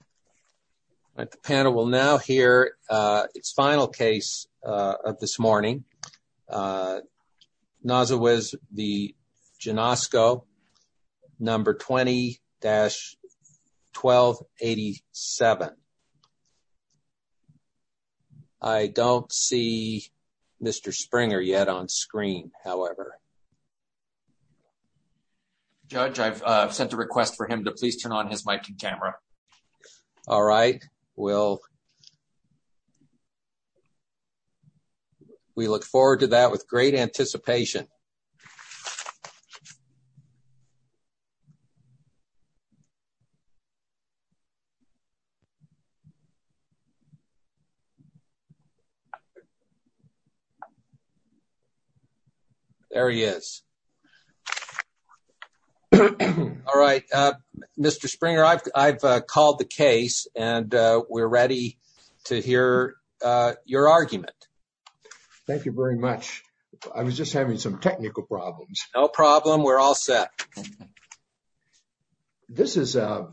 All right, the panel will now hear its final case of this morning. Nosewicz v. Janosko, number 20-1287. I don't see Mr. Springer yet on screen, however. Judge, I've sent a request for him to please turn on his mic and camera. All right, we look forward to that with great anticipation. There he is. All right, Mr. Springer, I've called the case and we're ready to hear your argument. Thank you very much. I was just having some technical problems. No problem, we're all set. This is, I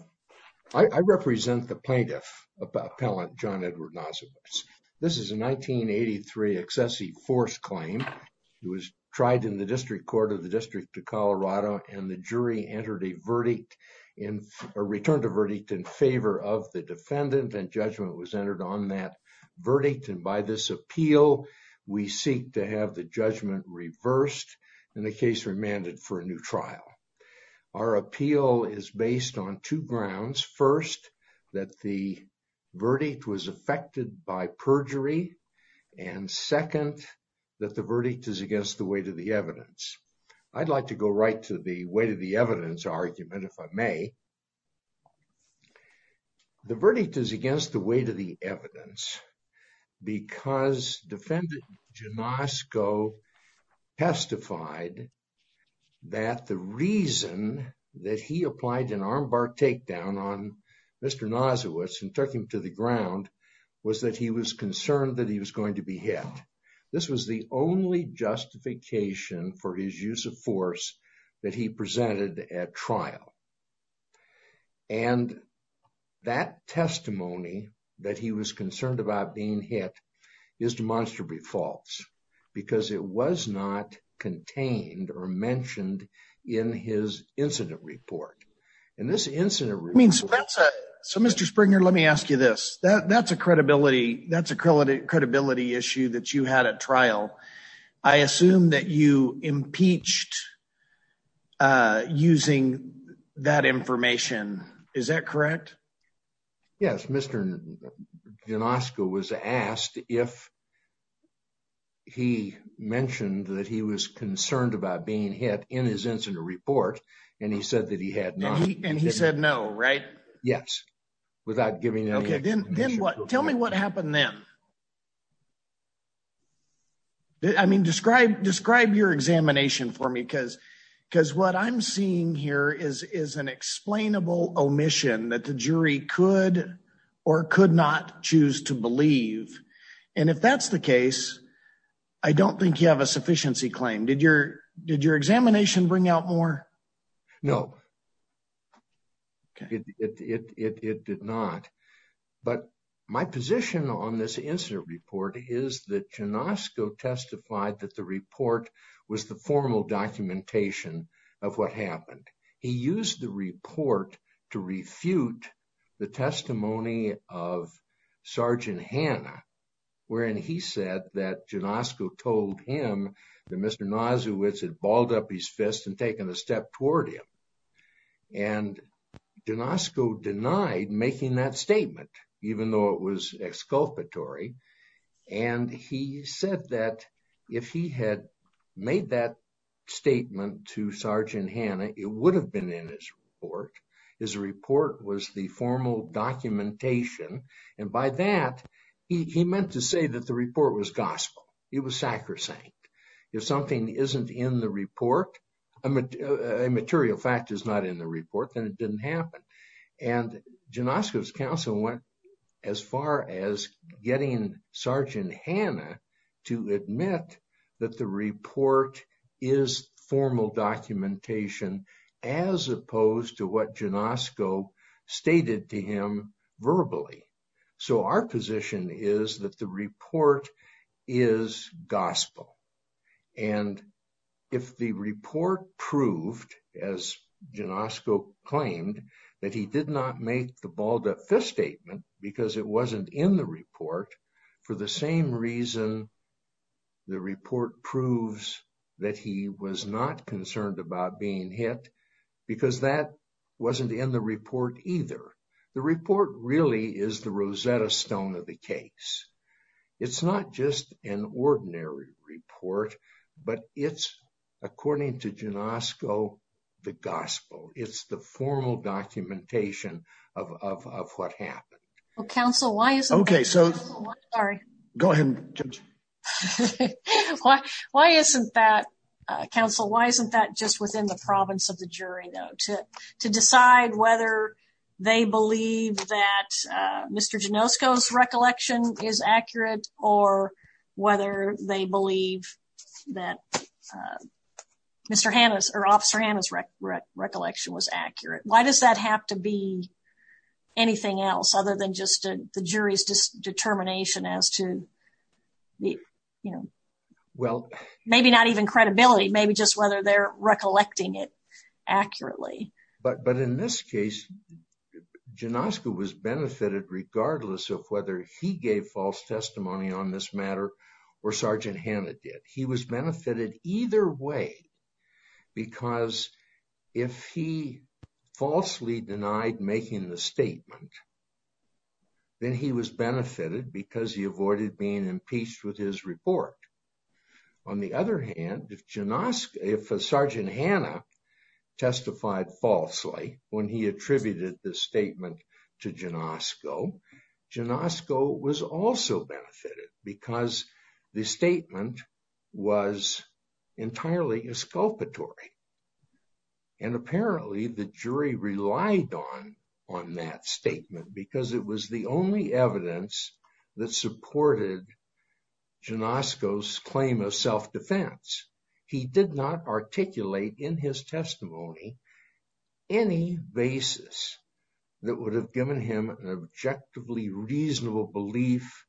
represent the plaintiff, Appellant John Edward Nosewicz. This is a 1983 excessive force claim. It was tried in the District Court of the District of Colorado and the jury entered a verdict in, a return to verdict in favor of the defendant and judgment was entered on that verdict. And by this appeal, we seek to have the judgment reversed and the case remanded for a new trial. Our appeal is based on two grounds. First, that the verdict was affected by perjury and second, that the verdict is against the weight of the evidence. I'd like to go right to the weight of the evidence argument, if I may. The verdict is against the weight of the evidence because defendant Janosko testified that the reason that he applied an armbar takedown on Mr. Nosewicz and took him to the ground was that he was concerned that he was going to be hit. This was the only justification for his use of force that he presented at trial. And that testimony that he was concerned about being hit is demonstrably false because it was not contained or mentioned in his incident report. So Mr. Springer, let me ask you this. That's a credibility issue that you had at trial. I assume that you impeached using that information. Is that correct? Yes. Mr. Janosko was asked if he mentioned that he was concerned about being hit in his incident report, and he said that he had not. And he said no, right? Yes, without giving any explanation. Okay, then tell me what happened then. I mean, describe your examination for me because what I'm seeing here is an explainable omission that the jury could or could not choose to believe. And if that's the case, I don't think you have a sufficiency claim. Did your examination bring out more? No, it did not. But my position on this incident report is that Janosko testified that the report was the formal documentation of what happened. He used the report to refute the testimony of Sergeant Hanna, wherein he said that Janosko told him that Mr. Nazowitz had balled up his fist and taken a step toward him. And Janosko denied making that statement, even though it was exculpatory. And he said that if he had made that statement to Sergeant Hanna, it would have been in his report. His report was the formal documentation. And by that, he meant to say that the report was gospel. It was sacrosanct. If something isn't in the report, a material fact is not in the report, then it didn't happen. And Janosko's counsel went as far as getting Sergeant Hanna to admit that the report is formal documentation, as opposed to what Janosko stated to him verbally. So our position is that the report is gospel. And if the report proved, as Janosko claimed, that he did not make the balled up fist statement because it wasn't in the report, for the same reason the report proves that he was not concerned about being hit, because that wasn't in the report either. The report really is the Rosetta Stone of the case. It's not just an ordinary report, but it's, according to Janosko, the gospel. It's the formal documentation of what happened. Counsel, why isn't that just within the province of the jury, though, to decide whether they believe that Mr. Janosko's recollection is accurate, or whether they believe that Officer Hanna's recollection was accurate? Why does that have to be anything else other the jury's determination as to, you know, maybe not even credibility, maybe just whether they're recollecting it accurately? But in this case, Janosko was benefited regardless of whether he gave false testimony on this matter or Sergeant Hanna did. He was benefited either way, because if he falsely denied making the statement, then he was benefited because he avoided being impeached with his report. On the other hand, if Janosko, if Sergeant Hanna testified falsely when he attributed the statement to Janosko, Janosko was also benefited because the statement was entirely exculpatory. And apparently the jury relied on that statement because it was the only evidence that supported Janosko's claim of self-defense. He did not articulate in his testimony any basis that would have given him an objectively reasonable belief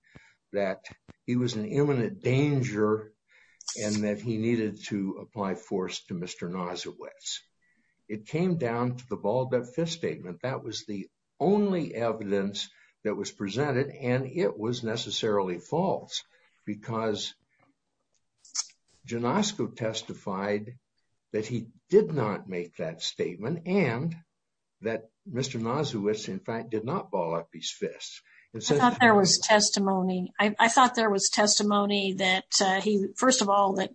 that he was in imminent danger and that he needed to apply force to Mr. Nasiewicz. It came down to the balled-up fist statement. That was the only evidence that was presented and it was necessarily false because Janosko testified that he did not make that statement and that Mr. Nasiewicz, in fact, did not ball up his fists. I thought there was testimony. I thought there was testimony that he, first of all, that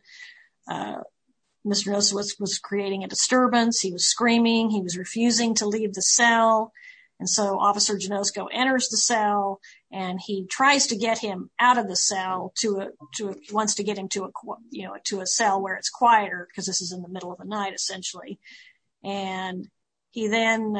Mr. Nasiewicz was creating a disturbance. He was screaming. He was refusing to leave the cell. And so Officer Janosko enters the cell and he tries to get him out of the cell to a, he wants to get him to a, you know, to a cell where it's quieter because this is in the middle of the night essentially. And he then,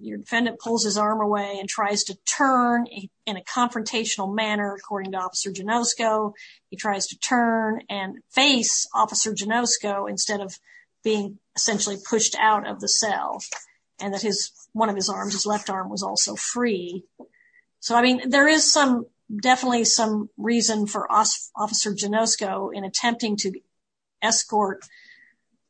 your defendant pulls his arm away and tries to turn in a confrontational manner according to Officer Janosko. He tries to turn and face Officer Janosko instead of being essentially pushed out of the cell. And that his, one of his arms, his left arm, was also free. So, I mean, there is some, definitely some reason for Officer Janosko in attempting to escort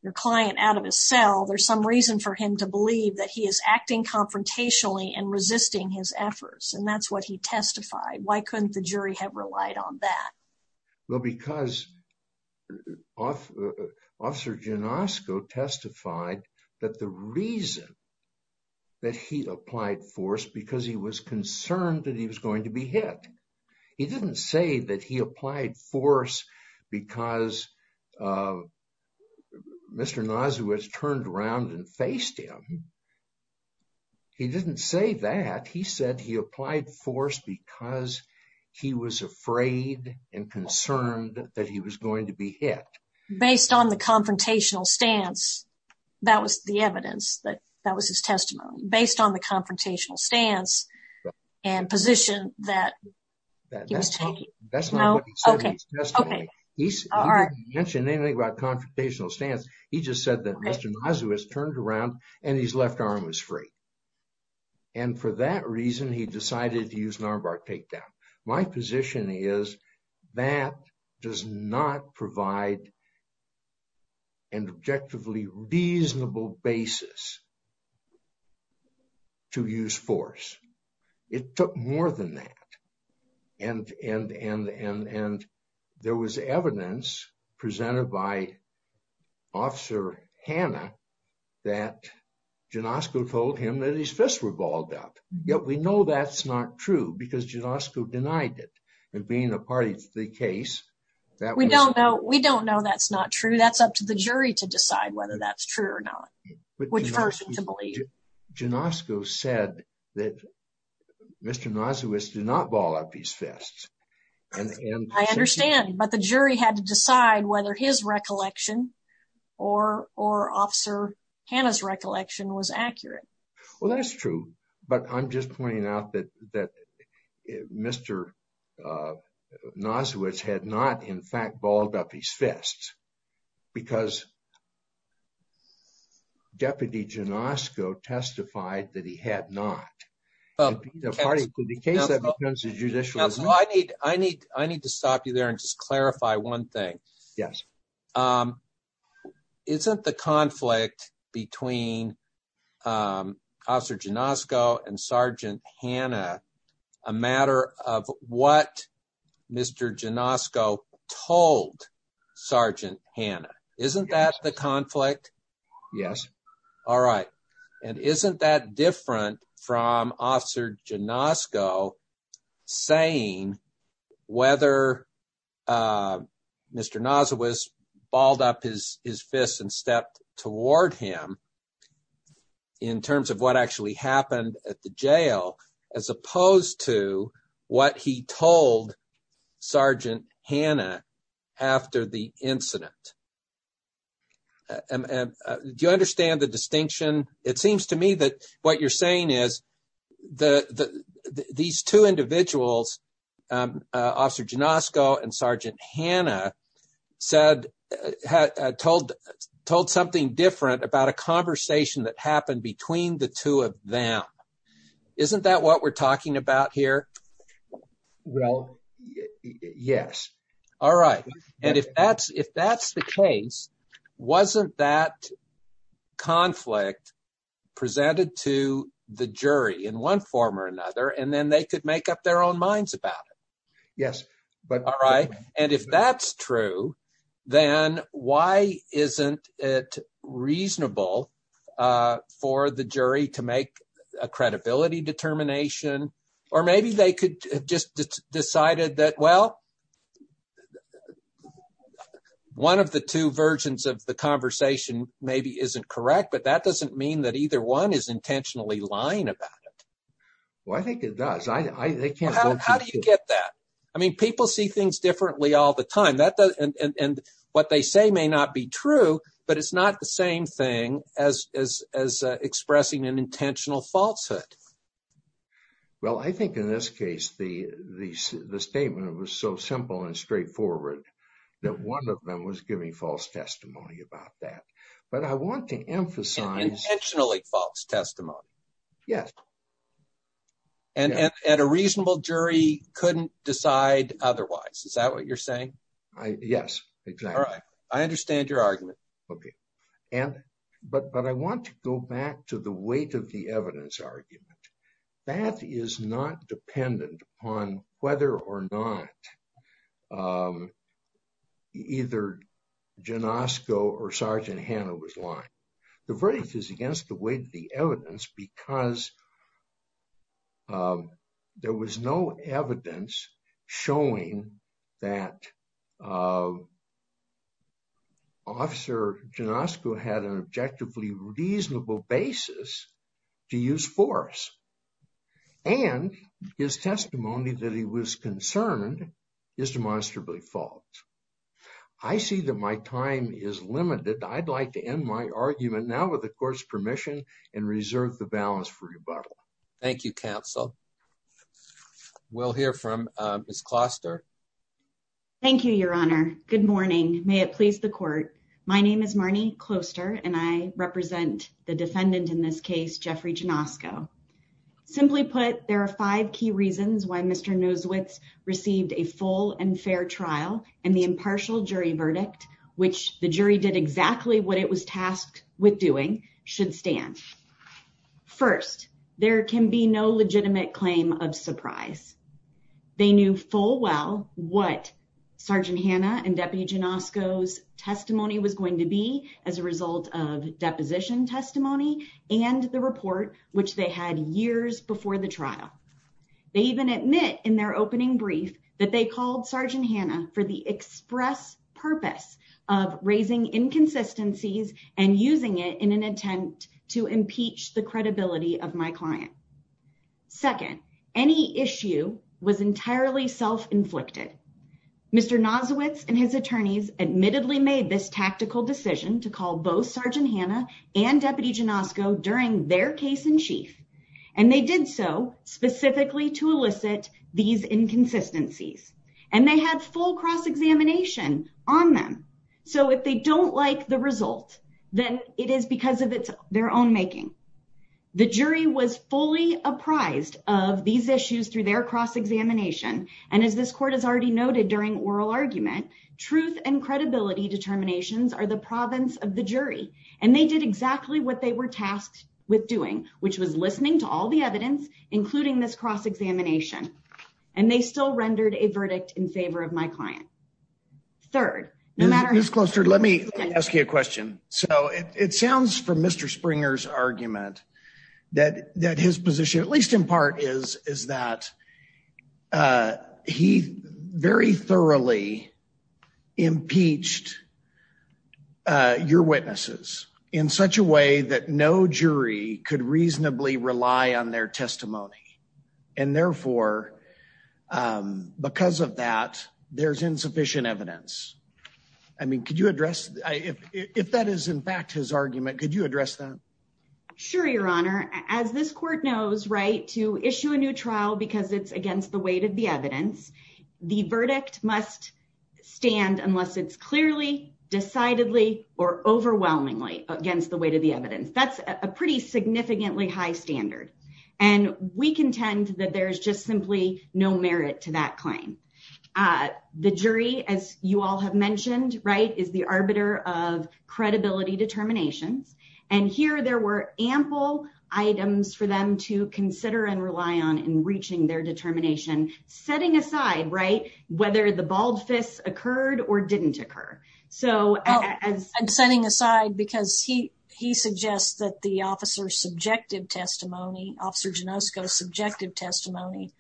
your client out of his cell. There's some reason for him to believe that he is acting confrontationally and resisting his efforts. And that's what he testified. Why couldn't the jury have relied on that? Well, because Officer Janosko testified that the reason that he applied force because he was concerned that he was going to be hit. He didn't say that he applied force because Mr. Nasiewicz turned around and faced him. He didn't say that. He said he applied force because he was afraid and concerned that he was going to be hit. Based on the confrontational stance, that was the evidence that that was his testimony. Based on the confrontational stance and position that he was taking. That's not what he said in his testimony. He didn't mention anything about confrontational stance. He just said that Mr. Nasiewicz turned around and his left arm was free. And for that reason, he decided to use an armbar takedown. My position is that does not provide an objectively reasonable basis to use force. It took more than that. And there was evidence presented by Officer Hanna that Janosko told him that his fists were balled up. Yet we know that's not true because Janosko denied it. And being a party to the case. We don't know that's not true. That's up to the jury to decide whether that's true or not. Which person to believe. Janosko said that Mr. Nasiewicz did not ball up his fists. I understand, but the jury had to decide whether his recollection or Officer Hanna's recollection was accurate. Well, that's true. But I'm just pointing out that Mr. Nasiewicz had not in fact balled up his fists because Deputy Janosko testified that he had not. I need to stop you there and just clarify one thing. Yes. Isn't the conflict between Officer Janosko and Sergeant Hanna a matter of what Mr. Janosko told Sergeant Hanna? Isn't that the conflict? Yes. All right. And isn't that different from Officer Janosko saying whether Mr. Nasiewicz balled up his fists and stepped toward him in terms of what actually happened at the jail as opposed to what he told Sergeant Hanna after the incident? Do you understand the distinction? It seems to me that what you're saying is these two individuals, Officer Janosko and Sergeant Hanna, told something different about a conversation that happened between the two of them. Isn't that what we're talking about here? Well, yes. All right. And if that's the case, wasn't that conflict presented to the jury in one form or another and then they could make up their own minds about it? Yes. All right. And if that's true, then why isn't it reasonable for the jury to make a credibility determination or maybe they could just decided that, well, one of the two versions of the conversation maybe isn't correct, but that doesn't mean that either one is intentionally lying about it. Well, I think it does. How do you get that? I mean, people see things differently all the time and what they say may not be true, but it's not the case. Well, I think in this case, the statement was so simple and straightforward that one of them was giving false testimony about that. But I want to emphasize- Intentionally false testimony. Yes. And a reasonable jury couldn't decide otherwise. Is that what you're saying? Yes, exactly. All right. I understand your argument. Okay. But I want to go back to the evidence argument. That is not dependent on whether or not either Janosko or Sergeant Hanna was lying. The verdict is against the weight of the evidence because there was no evidence showing that Officer Janosko had an objectively reasonable basis to use force and his testimony that he was concerned is demonstrably false. I see that my time is limited. I'd like to end my argument now with the court's permission and reserve the balance for rebuttal. Thank you, counsel. We'll hear from Ms. Kloster. Thank you, Your Honor. Good morning. May it please the court. My name is Marnie Kloster and I represent the defendant in this case, Jeffrey Janosko. Simply put, there are five key reasons why Mr. Nosewitz received a full and fair trial and the impartial jury verdict, which the jury did exactly what it was tasked with doing, should stand. First, there can be no legitimate claim of surprise. They knew full well what Sergeant Hanna and Deputy Janosko's testimony was going to be as a result of deposition testimony and the report, which they had years before the trial. They even admit in their opening brief that they called Sergeant Hanna for the express purpose of raising inconsistencies and using it in an attempt to impeach the credibility of my client. Second, any issue was entirely self-inflicted. Mr. Nosewitz and his attorneys admittedly made this tactical decision to call both Sergeant Hanna and Deputy Janosko during their case in chief. And they did so specifically to elicit these inconsistencies. And they had full cross-examination on them. So if they don't like the result, then it is because of their own making. The jury was fully apprised of these issues through their cross-examination. And as this court has already noted during oral argument, truth and credibility determinations are the province of the jury. And they did exactly what they were tasked with doing, which was listening to all the evidence, including this cross-examination. And they still rendered a verdict in favor of my client. Third, no matter... Ms. Closter, let me ask you a question. So it sounds from Mr. Springer's argument that his position, at least in part, is that he very thoroughly impeached your witnesses in such a way that no jury could reasonably rely on their testimony. And therefore, because of that, there's insufficient evidence. I mean, could you address... If that is in fact his argument, could you address that? Sure, Your Honor. As this court knows, right, to issue a new trial because it's against the weight of the evidence, the verdict must stand unless it's clearly, decidedly, or overwhelmingly against the weight of the evidence. That's a pretty significantly high standard. And we contend that there's just simply no merit to that claim. The jury, as you all have mentioned, right, is the arbiter of credibility determinations. And here there were ample items for them to consider and rely on in reaching their determination, setting aside, right, whether the bald fists occurred or didn't occur. So as... Officer Janosko's subjective testimony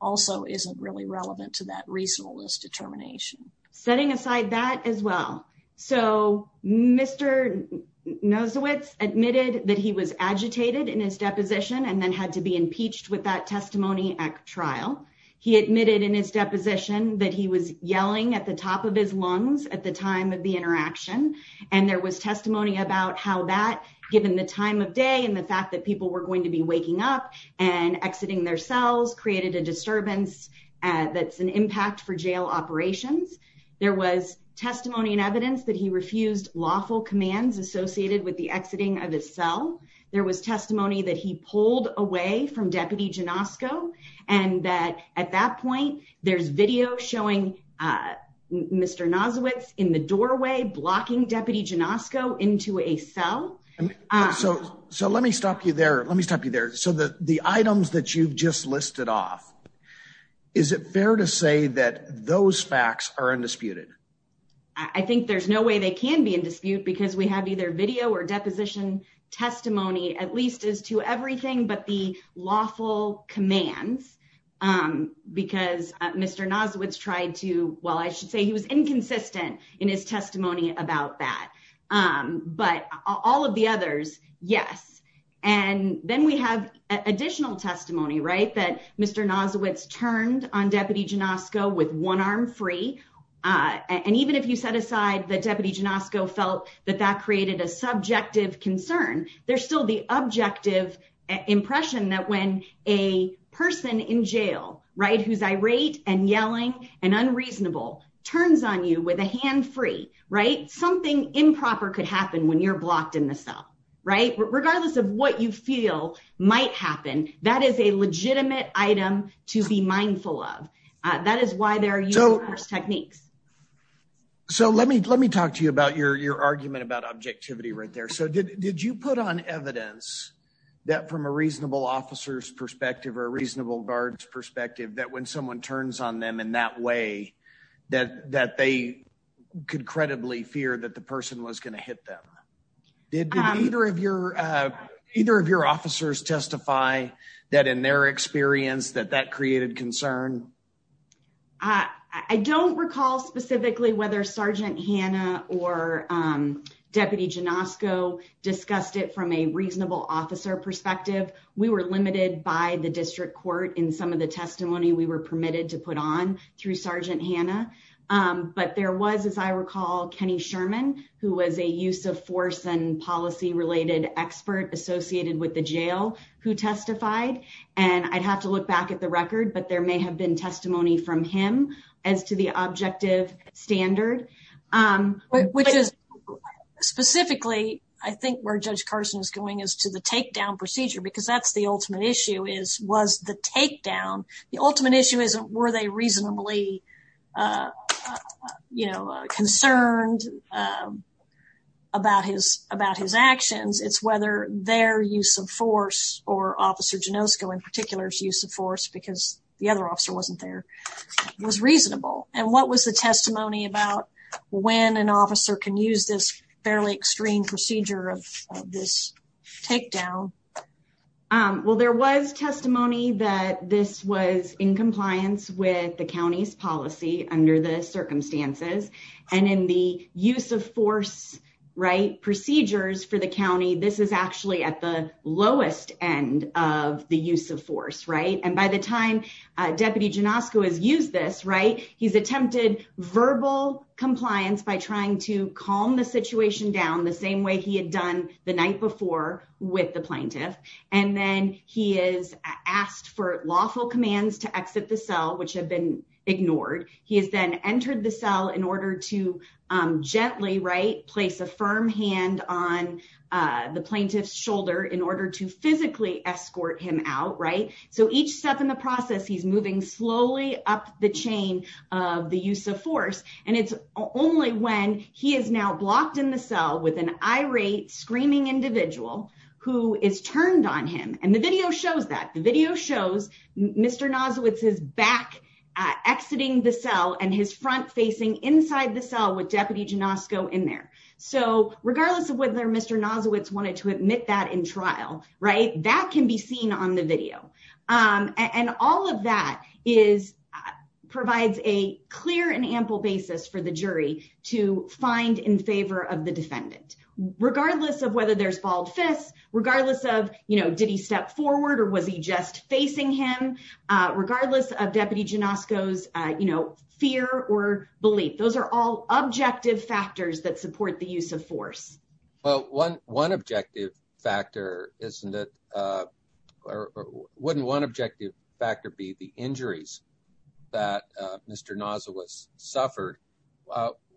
also isn't really relevant to that reasonableness determination. Setting aside that as well. So Mr. Nosowitz admitted that he was agitated in his deposition and then had to be impeached with that testimony at trial. He admitted in his deposition that he was yelling at the top of his lungs at the time of the interaction. And there was testimony about how that, given the time of day and the fact that people were going to be waking up and exiting their cells, created a disturbance that's an impact for jail operations. There was testimony and evidence that he refused lawful commands associated with the exiting of his cell. There was testimony that he pulled away from Deputy Janosko and that at that point, there's video showing Mr. Nosowitz in the doorway blocking Deputy Janosko into a cell. So let me stop you there. Let me stop you there. So the items that you've just listed off, is it fair to say that those facts are undisputed? I think there's no way they can be in dispute because we have either video or deposition testimony, at least as to everything but the lawful commands. Because Mr. Nosowitz tried to, well, I should say he was inconsistent in his testimony about that. But all of the others, yes. And then we have additional testimony, right? That Mr. Nosowitz turned on Deputy Janosko with one arm free. And even if you set aside that Deputy Janosko felt that that created a subjective concern, there's still the objective impression that when a person in jail, right? Who's irate and yelling and unreasonable, turns on you with a hand free, right? Something improper could happen when you're blocked in the cell, right? Regardless of what you feel might happen, that is a legitimate item to be mindful of. That is why they're using those techniques. So let me talk to you about your argument about objectivity right there. So did you put on evidence that from a reasonable officer's perspective or a reasonable guard's perspective that when someone turns on them in that way, that they could credibly fear that the person was going to hit them? Did either of your officers testify that in their experience that that created concern? I don't recall specifically whether Sergeant Hanna or Deputy Janosko discussed it from a reasonable officer perspective. We were limited by the district court in some of the testimony we were permitted to put on through Sergeant Hanna. But there was, as I recall, Kenny Sherman, who was a use of force and policy related expert associated with the jail who testified. And I'd look back at the record, but there may have been testimony from him as to the objective standard. Which is specifically, I think, where Judge Carson is going is to the takedown procedure, because that's the ultimate issue, was the takedown. The ultimate issue isn't were they reasonably concerned about his actions. It's whether their use of force or Officer Janosko in particular's use of force, because the other officer wasn't there, was reasonable. And what was the testimony about when an officer can use this fairly extreme procedure of this takedown? Well, there was testimony that this was in compliance with the county's policy under the circumstances. And in the use of force procedures for the county, this is actually at the lowest end of the use of force. And by the time Deputy Janosko has used this, he's attempted verbal compliance by trying to calm the situation down the same way he had done the night before with the plaintiff. And then he is asked for lawful commands to exit the cell, which have been ignored. He has then entered the cell in order to gently place a firm hand on the plaintiff's head to physically escort him out. So each step in the process, he's moving slowly up the chain of the use of force. And it's only when he is now blocked in the cell with an irate, screaming individual who is turned on him. And the video shows that. The video shows Mr. Nozowitz's back exiting the cell and his front facing inside the cell with Deputy Janosko in there. So regardless of whether Mr. Nozowitz wanted to admit that in trial, that can be seen on the video. And all of that provides a clear and ample basis for the jury to find in favor of the defendant, regardless of whether there's bald fists, regardless of did he step forward or was he just facing him, regardless of Deputy Janosko's fear or belief. Those are all objective factors that support the use of force. Well, one objective factor, isn't it? Or wouldn't one objective factor be the injuries that Mr. Nozowitz suffered?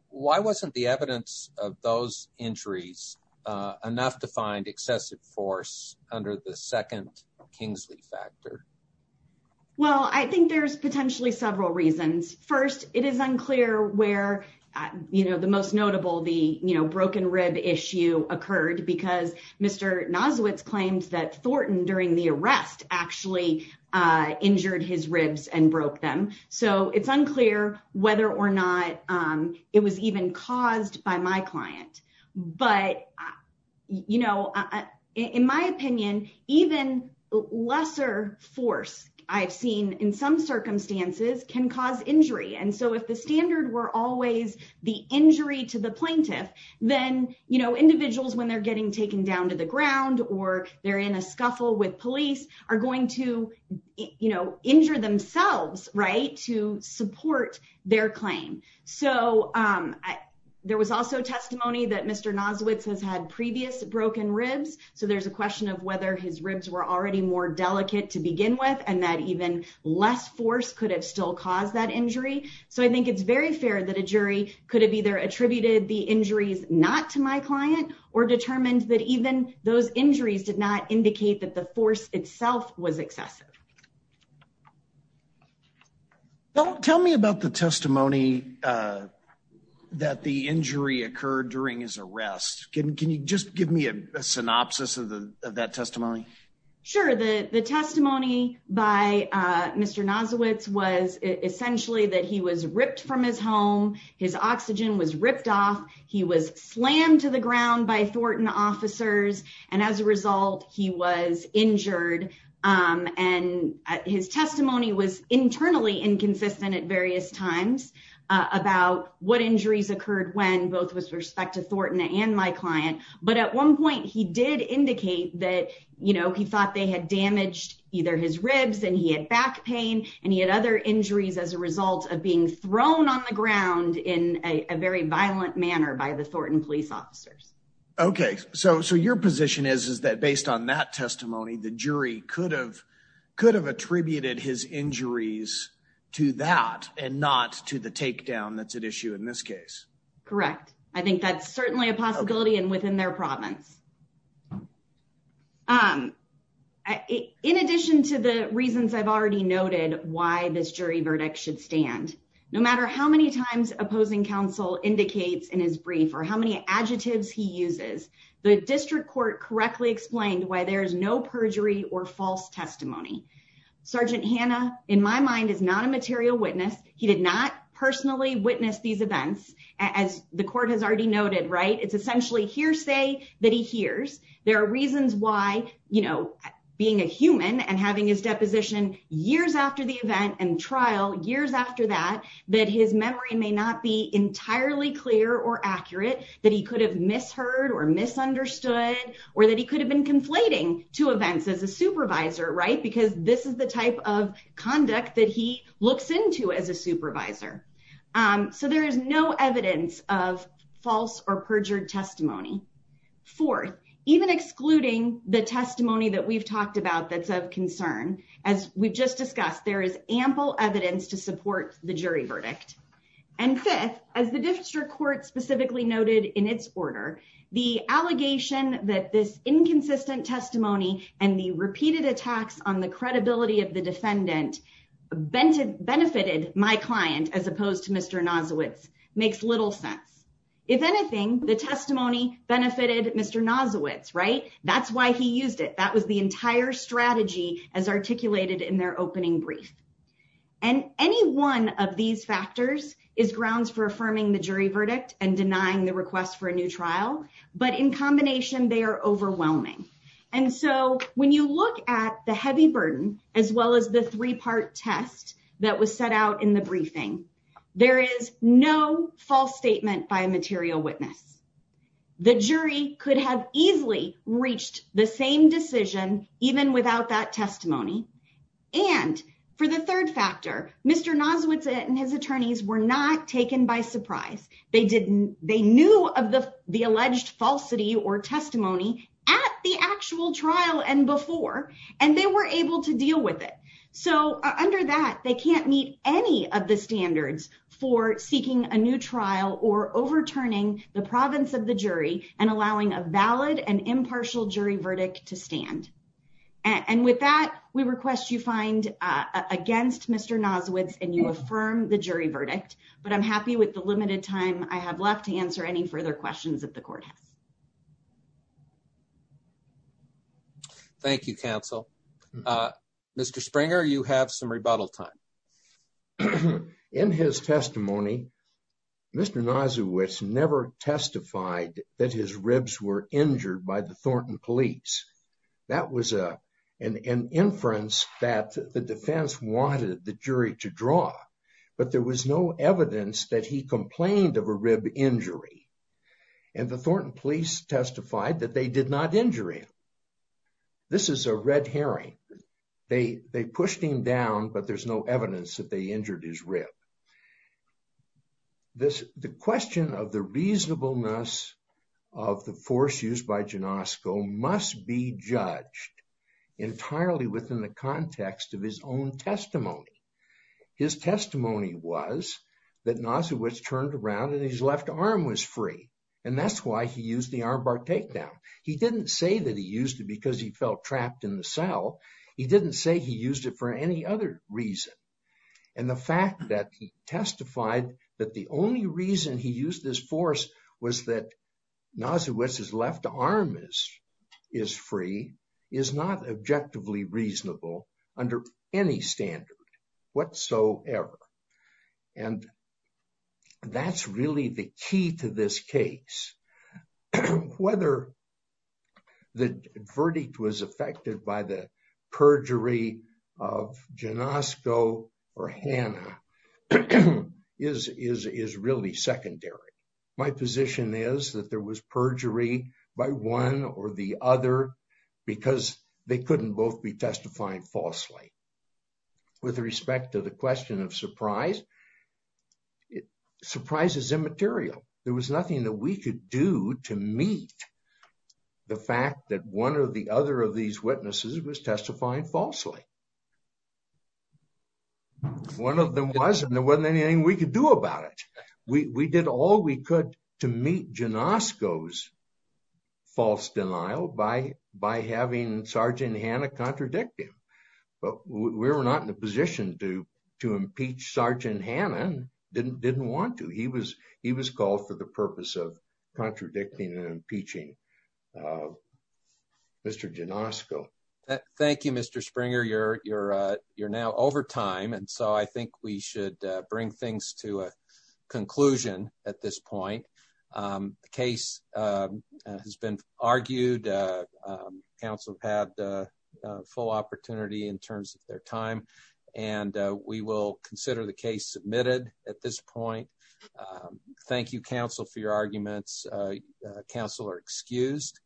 Why wasn't the evidence of those injuries enough to find excessive force under the second Kingsley factor? Well, I think there's potentially several reasons. First, it is unclear where, you know, the most notable, the, you know, broken rib issue occurred because Mr. Nozowitz claimed that Thornton during the arrest actually injured his ribs and broke them. So it's unclear whether or not it was even caused by my client. But, you know, in my opinion, even lesser force I've seen in some circumstances can cause injury. And so if the standard were always the injury to the plaintiff, then, you know, individuals when they're getting taken down to the ground or they're in a scuffle with police are going to, you know, injure themselves, right, to support their claim. So there was also testimony that Mr. Nozowitz has had previous broken ribs. So there's a question of whether his ribs were already more delicate to begin with and that even less force could have still caused that injury. So I think it's very fair that a jury could have either attributed the force itself was excessive. Well, tell me about the testimony that the injury occurred during his arrest. Can you just give me a synopsis of that testimony? Sure. The testimony by Mr. Nozowitz was essentially that he was ripped from his home. His oxygen was ripped off. He was slammed to the ground. He was injured. And his testimony was internally inconsistent at various times about what injuries occurred when both with respect to Thornton and my client. But at one point, he did indicate that, you know, he thought they had damaged either his ribs and he had back pain and he had other injuries as a result of being thrown on the ground in a very violent manner by the Thornton police Okay. So your position is that based on that testimony, the jury could have attributed his injuries to that and not to the takedown that's at issue in this case. Correct. I think that's certainly a possibility and within their province. In addition to the reasons I've already noted why this jury verdict should stand, no matter how many opposing counsel indicates in his brief or how many adjectives he uses, the district court correctly explained why there's no perjury or false testimony. Sergeant Hannah, in my mind, is not a material witness. He did not personally witness these events as the court has already noted, right? It's essentially hearsay that he hears. There are reasons why, you know, being a human and having his deposition years after the event and trial, years after that, that his memory may not be entirely clear or accurate that he could have misheard or misunderstood or that he could have been conflating to events as a supervisor, right? Because this is the type of conduct that he looks into as a supervisor. So there is no evidence of false or perjured testimony. Fourth, even excluding the testimony that we've talked about that's of concern, as we've just discussed, there is ample evidence to support the jury verdict. And fifth, as the district court specifically noted in its order, the allegation that this inconsistent testimony and the repeated attacks on the credibility of the defendant benefited my client as opposed to Mr. Nozowitz makes little sense. If anything, the testimony benefited Mr. Nozowitz, right? That's why he used it. That was the entire strategy as articulated in their opening brief. And any one of these factors is grounds for affirming the jury verdict and denying the request for a new trial. But in combination, they are overwhelming. And so when you look at the heavy burden, as well as the three-part test that was set out in the briefing, there is no the same decision, even without that testimony. And for the third factor, Mr. Nozwitz and his attorneys were not taken by surprise. They knew of the alleged falsity or testimony at the actual trial and before, and they were able to deal with it. So under that, they can't meet any of the standards for seeking a new trial or overturning the province of the jury and allowing a valid and impartial jury verdict to stand. And with that, we request you find against Mr. Nozwitz and you affirm the jury verdict. But I'm happy with the limited time I have left to answer any further questions that the court has. Thank you, counsel. Mr. Springer, you have some rebuttal time. In his testimony, Mr. Nozwitz never testified that his ribs were injured by the Thornton police. That was an inference that the defense wanted the jury to draw, but there was no evidence that he complained of a rib injury. And the Thornton police testified that they did not injure him. This is a red herring. They pushed him down, but there's no evidence that they injured his rib. The question of the reasonableness of the force used by Janosko must be judged entirely within the context of his own testimony. His testimony was that Nozwitz turned around and his left arm was free, and that's why he used the armbar takedown. He didn't say that he used it because he felt trapped in the cell. He didn't say he used it for any other reason. And the fact that he testified that the only reason he used this force was that Nozwitz's left arm is free is not objectively reasonable under any standard whatsoever. And that's really the key to this case. Whether the verdict was affected by the perjury of Janosko or Hannah is really secondary. My position is that there was perjury by one or the other because they couldn't both be testifying falsely. With respect to the question of surprise, surprise is immaterial. There was nothing that we could do to meet the fact that one or the other of these witnesses was testifying falsely. One of them was, and there wasn't anything we could do about it. We did all we could to meet Janosko's false denial by having Sgt. Hannah contradict him. But we were not in a position to impeach Sgt. Hannah and didn't want to. He was called for the purpose of contradicting and impeaching Mr. Janosko. Thank you, Mr. Springer. You're now over time, and so I think we should bring things to a conclusion at this point. The case has been argued. Council had a full opportunity in terms of their time, and we will consider the case submitted at this point. Thank you, Council, for your arguments. Council are excused.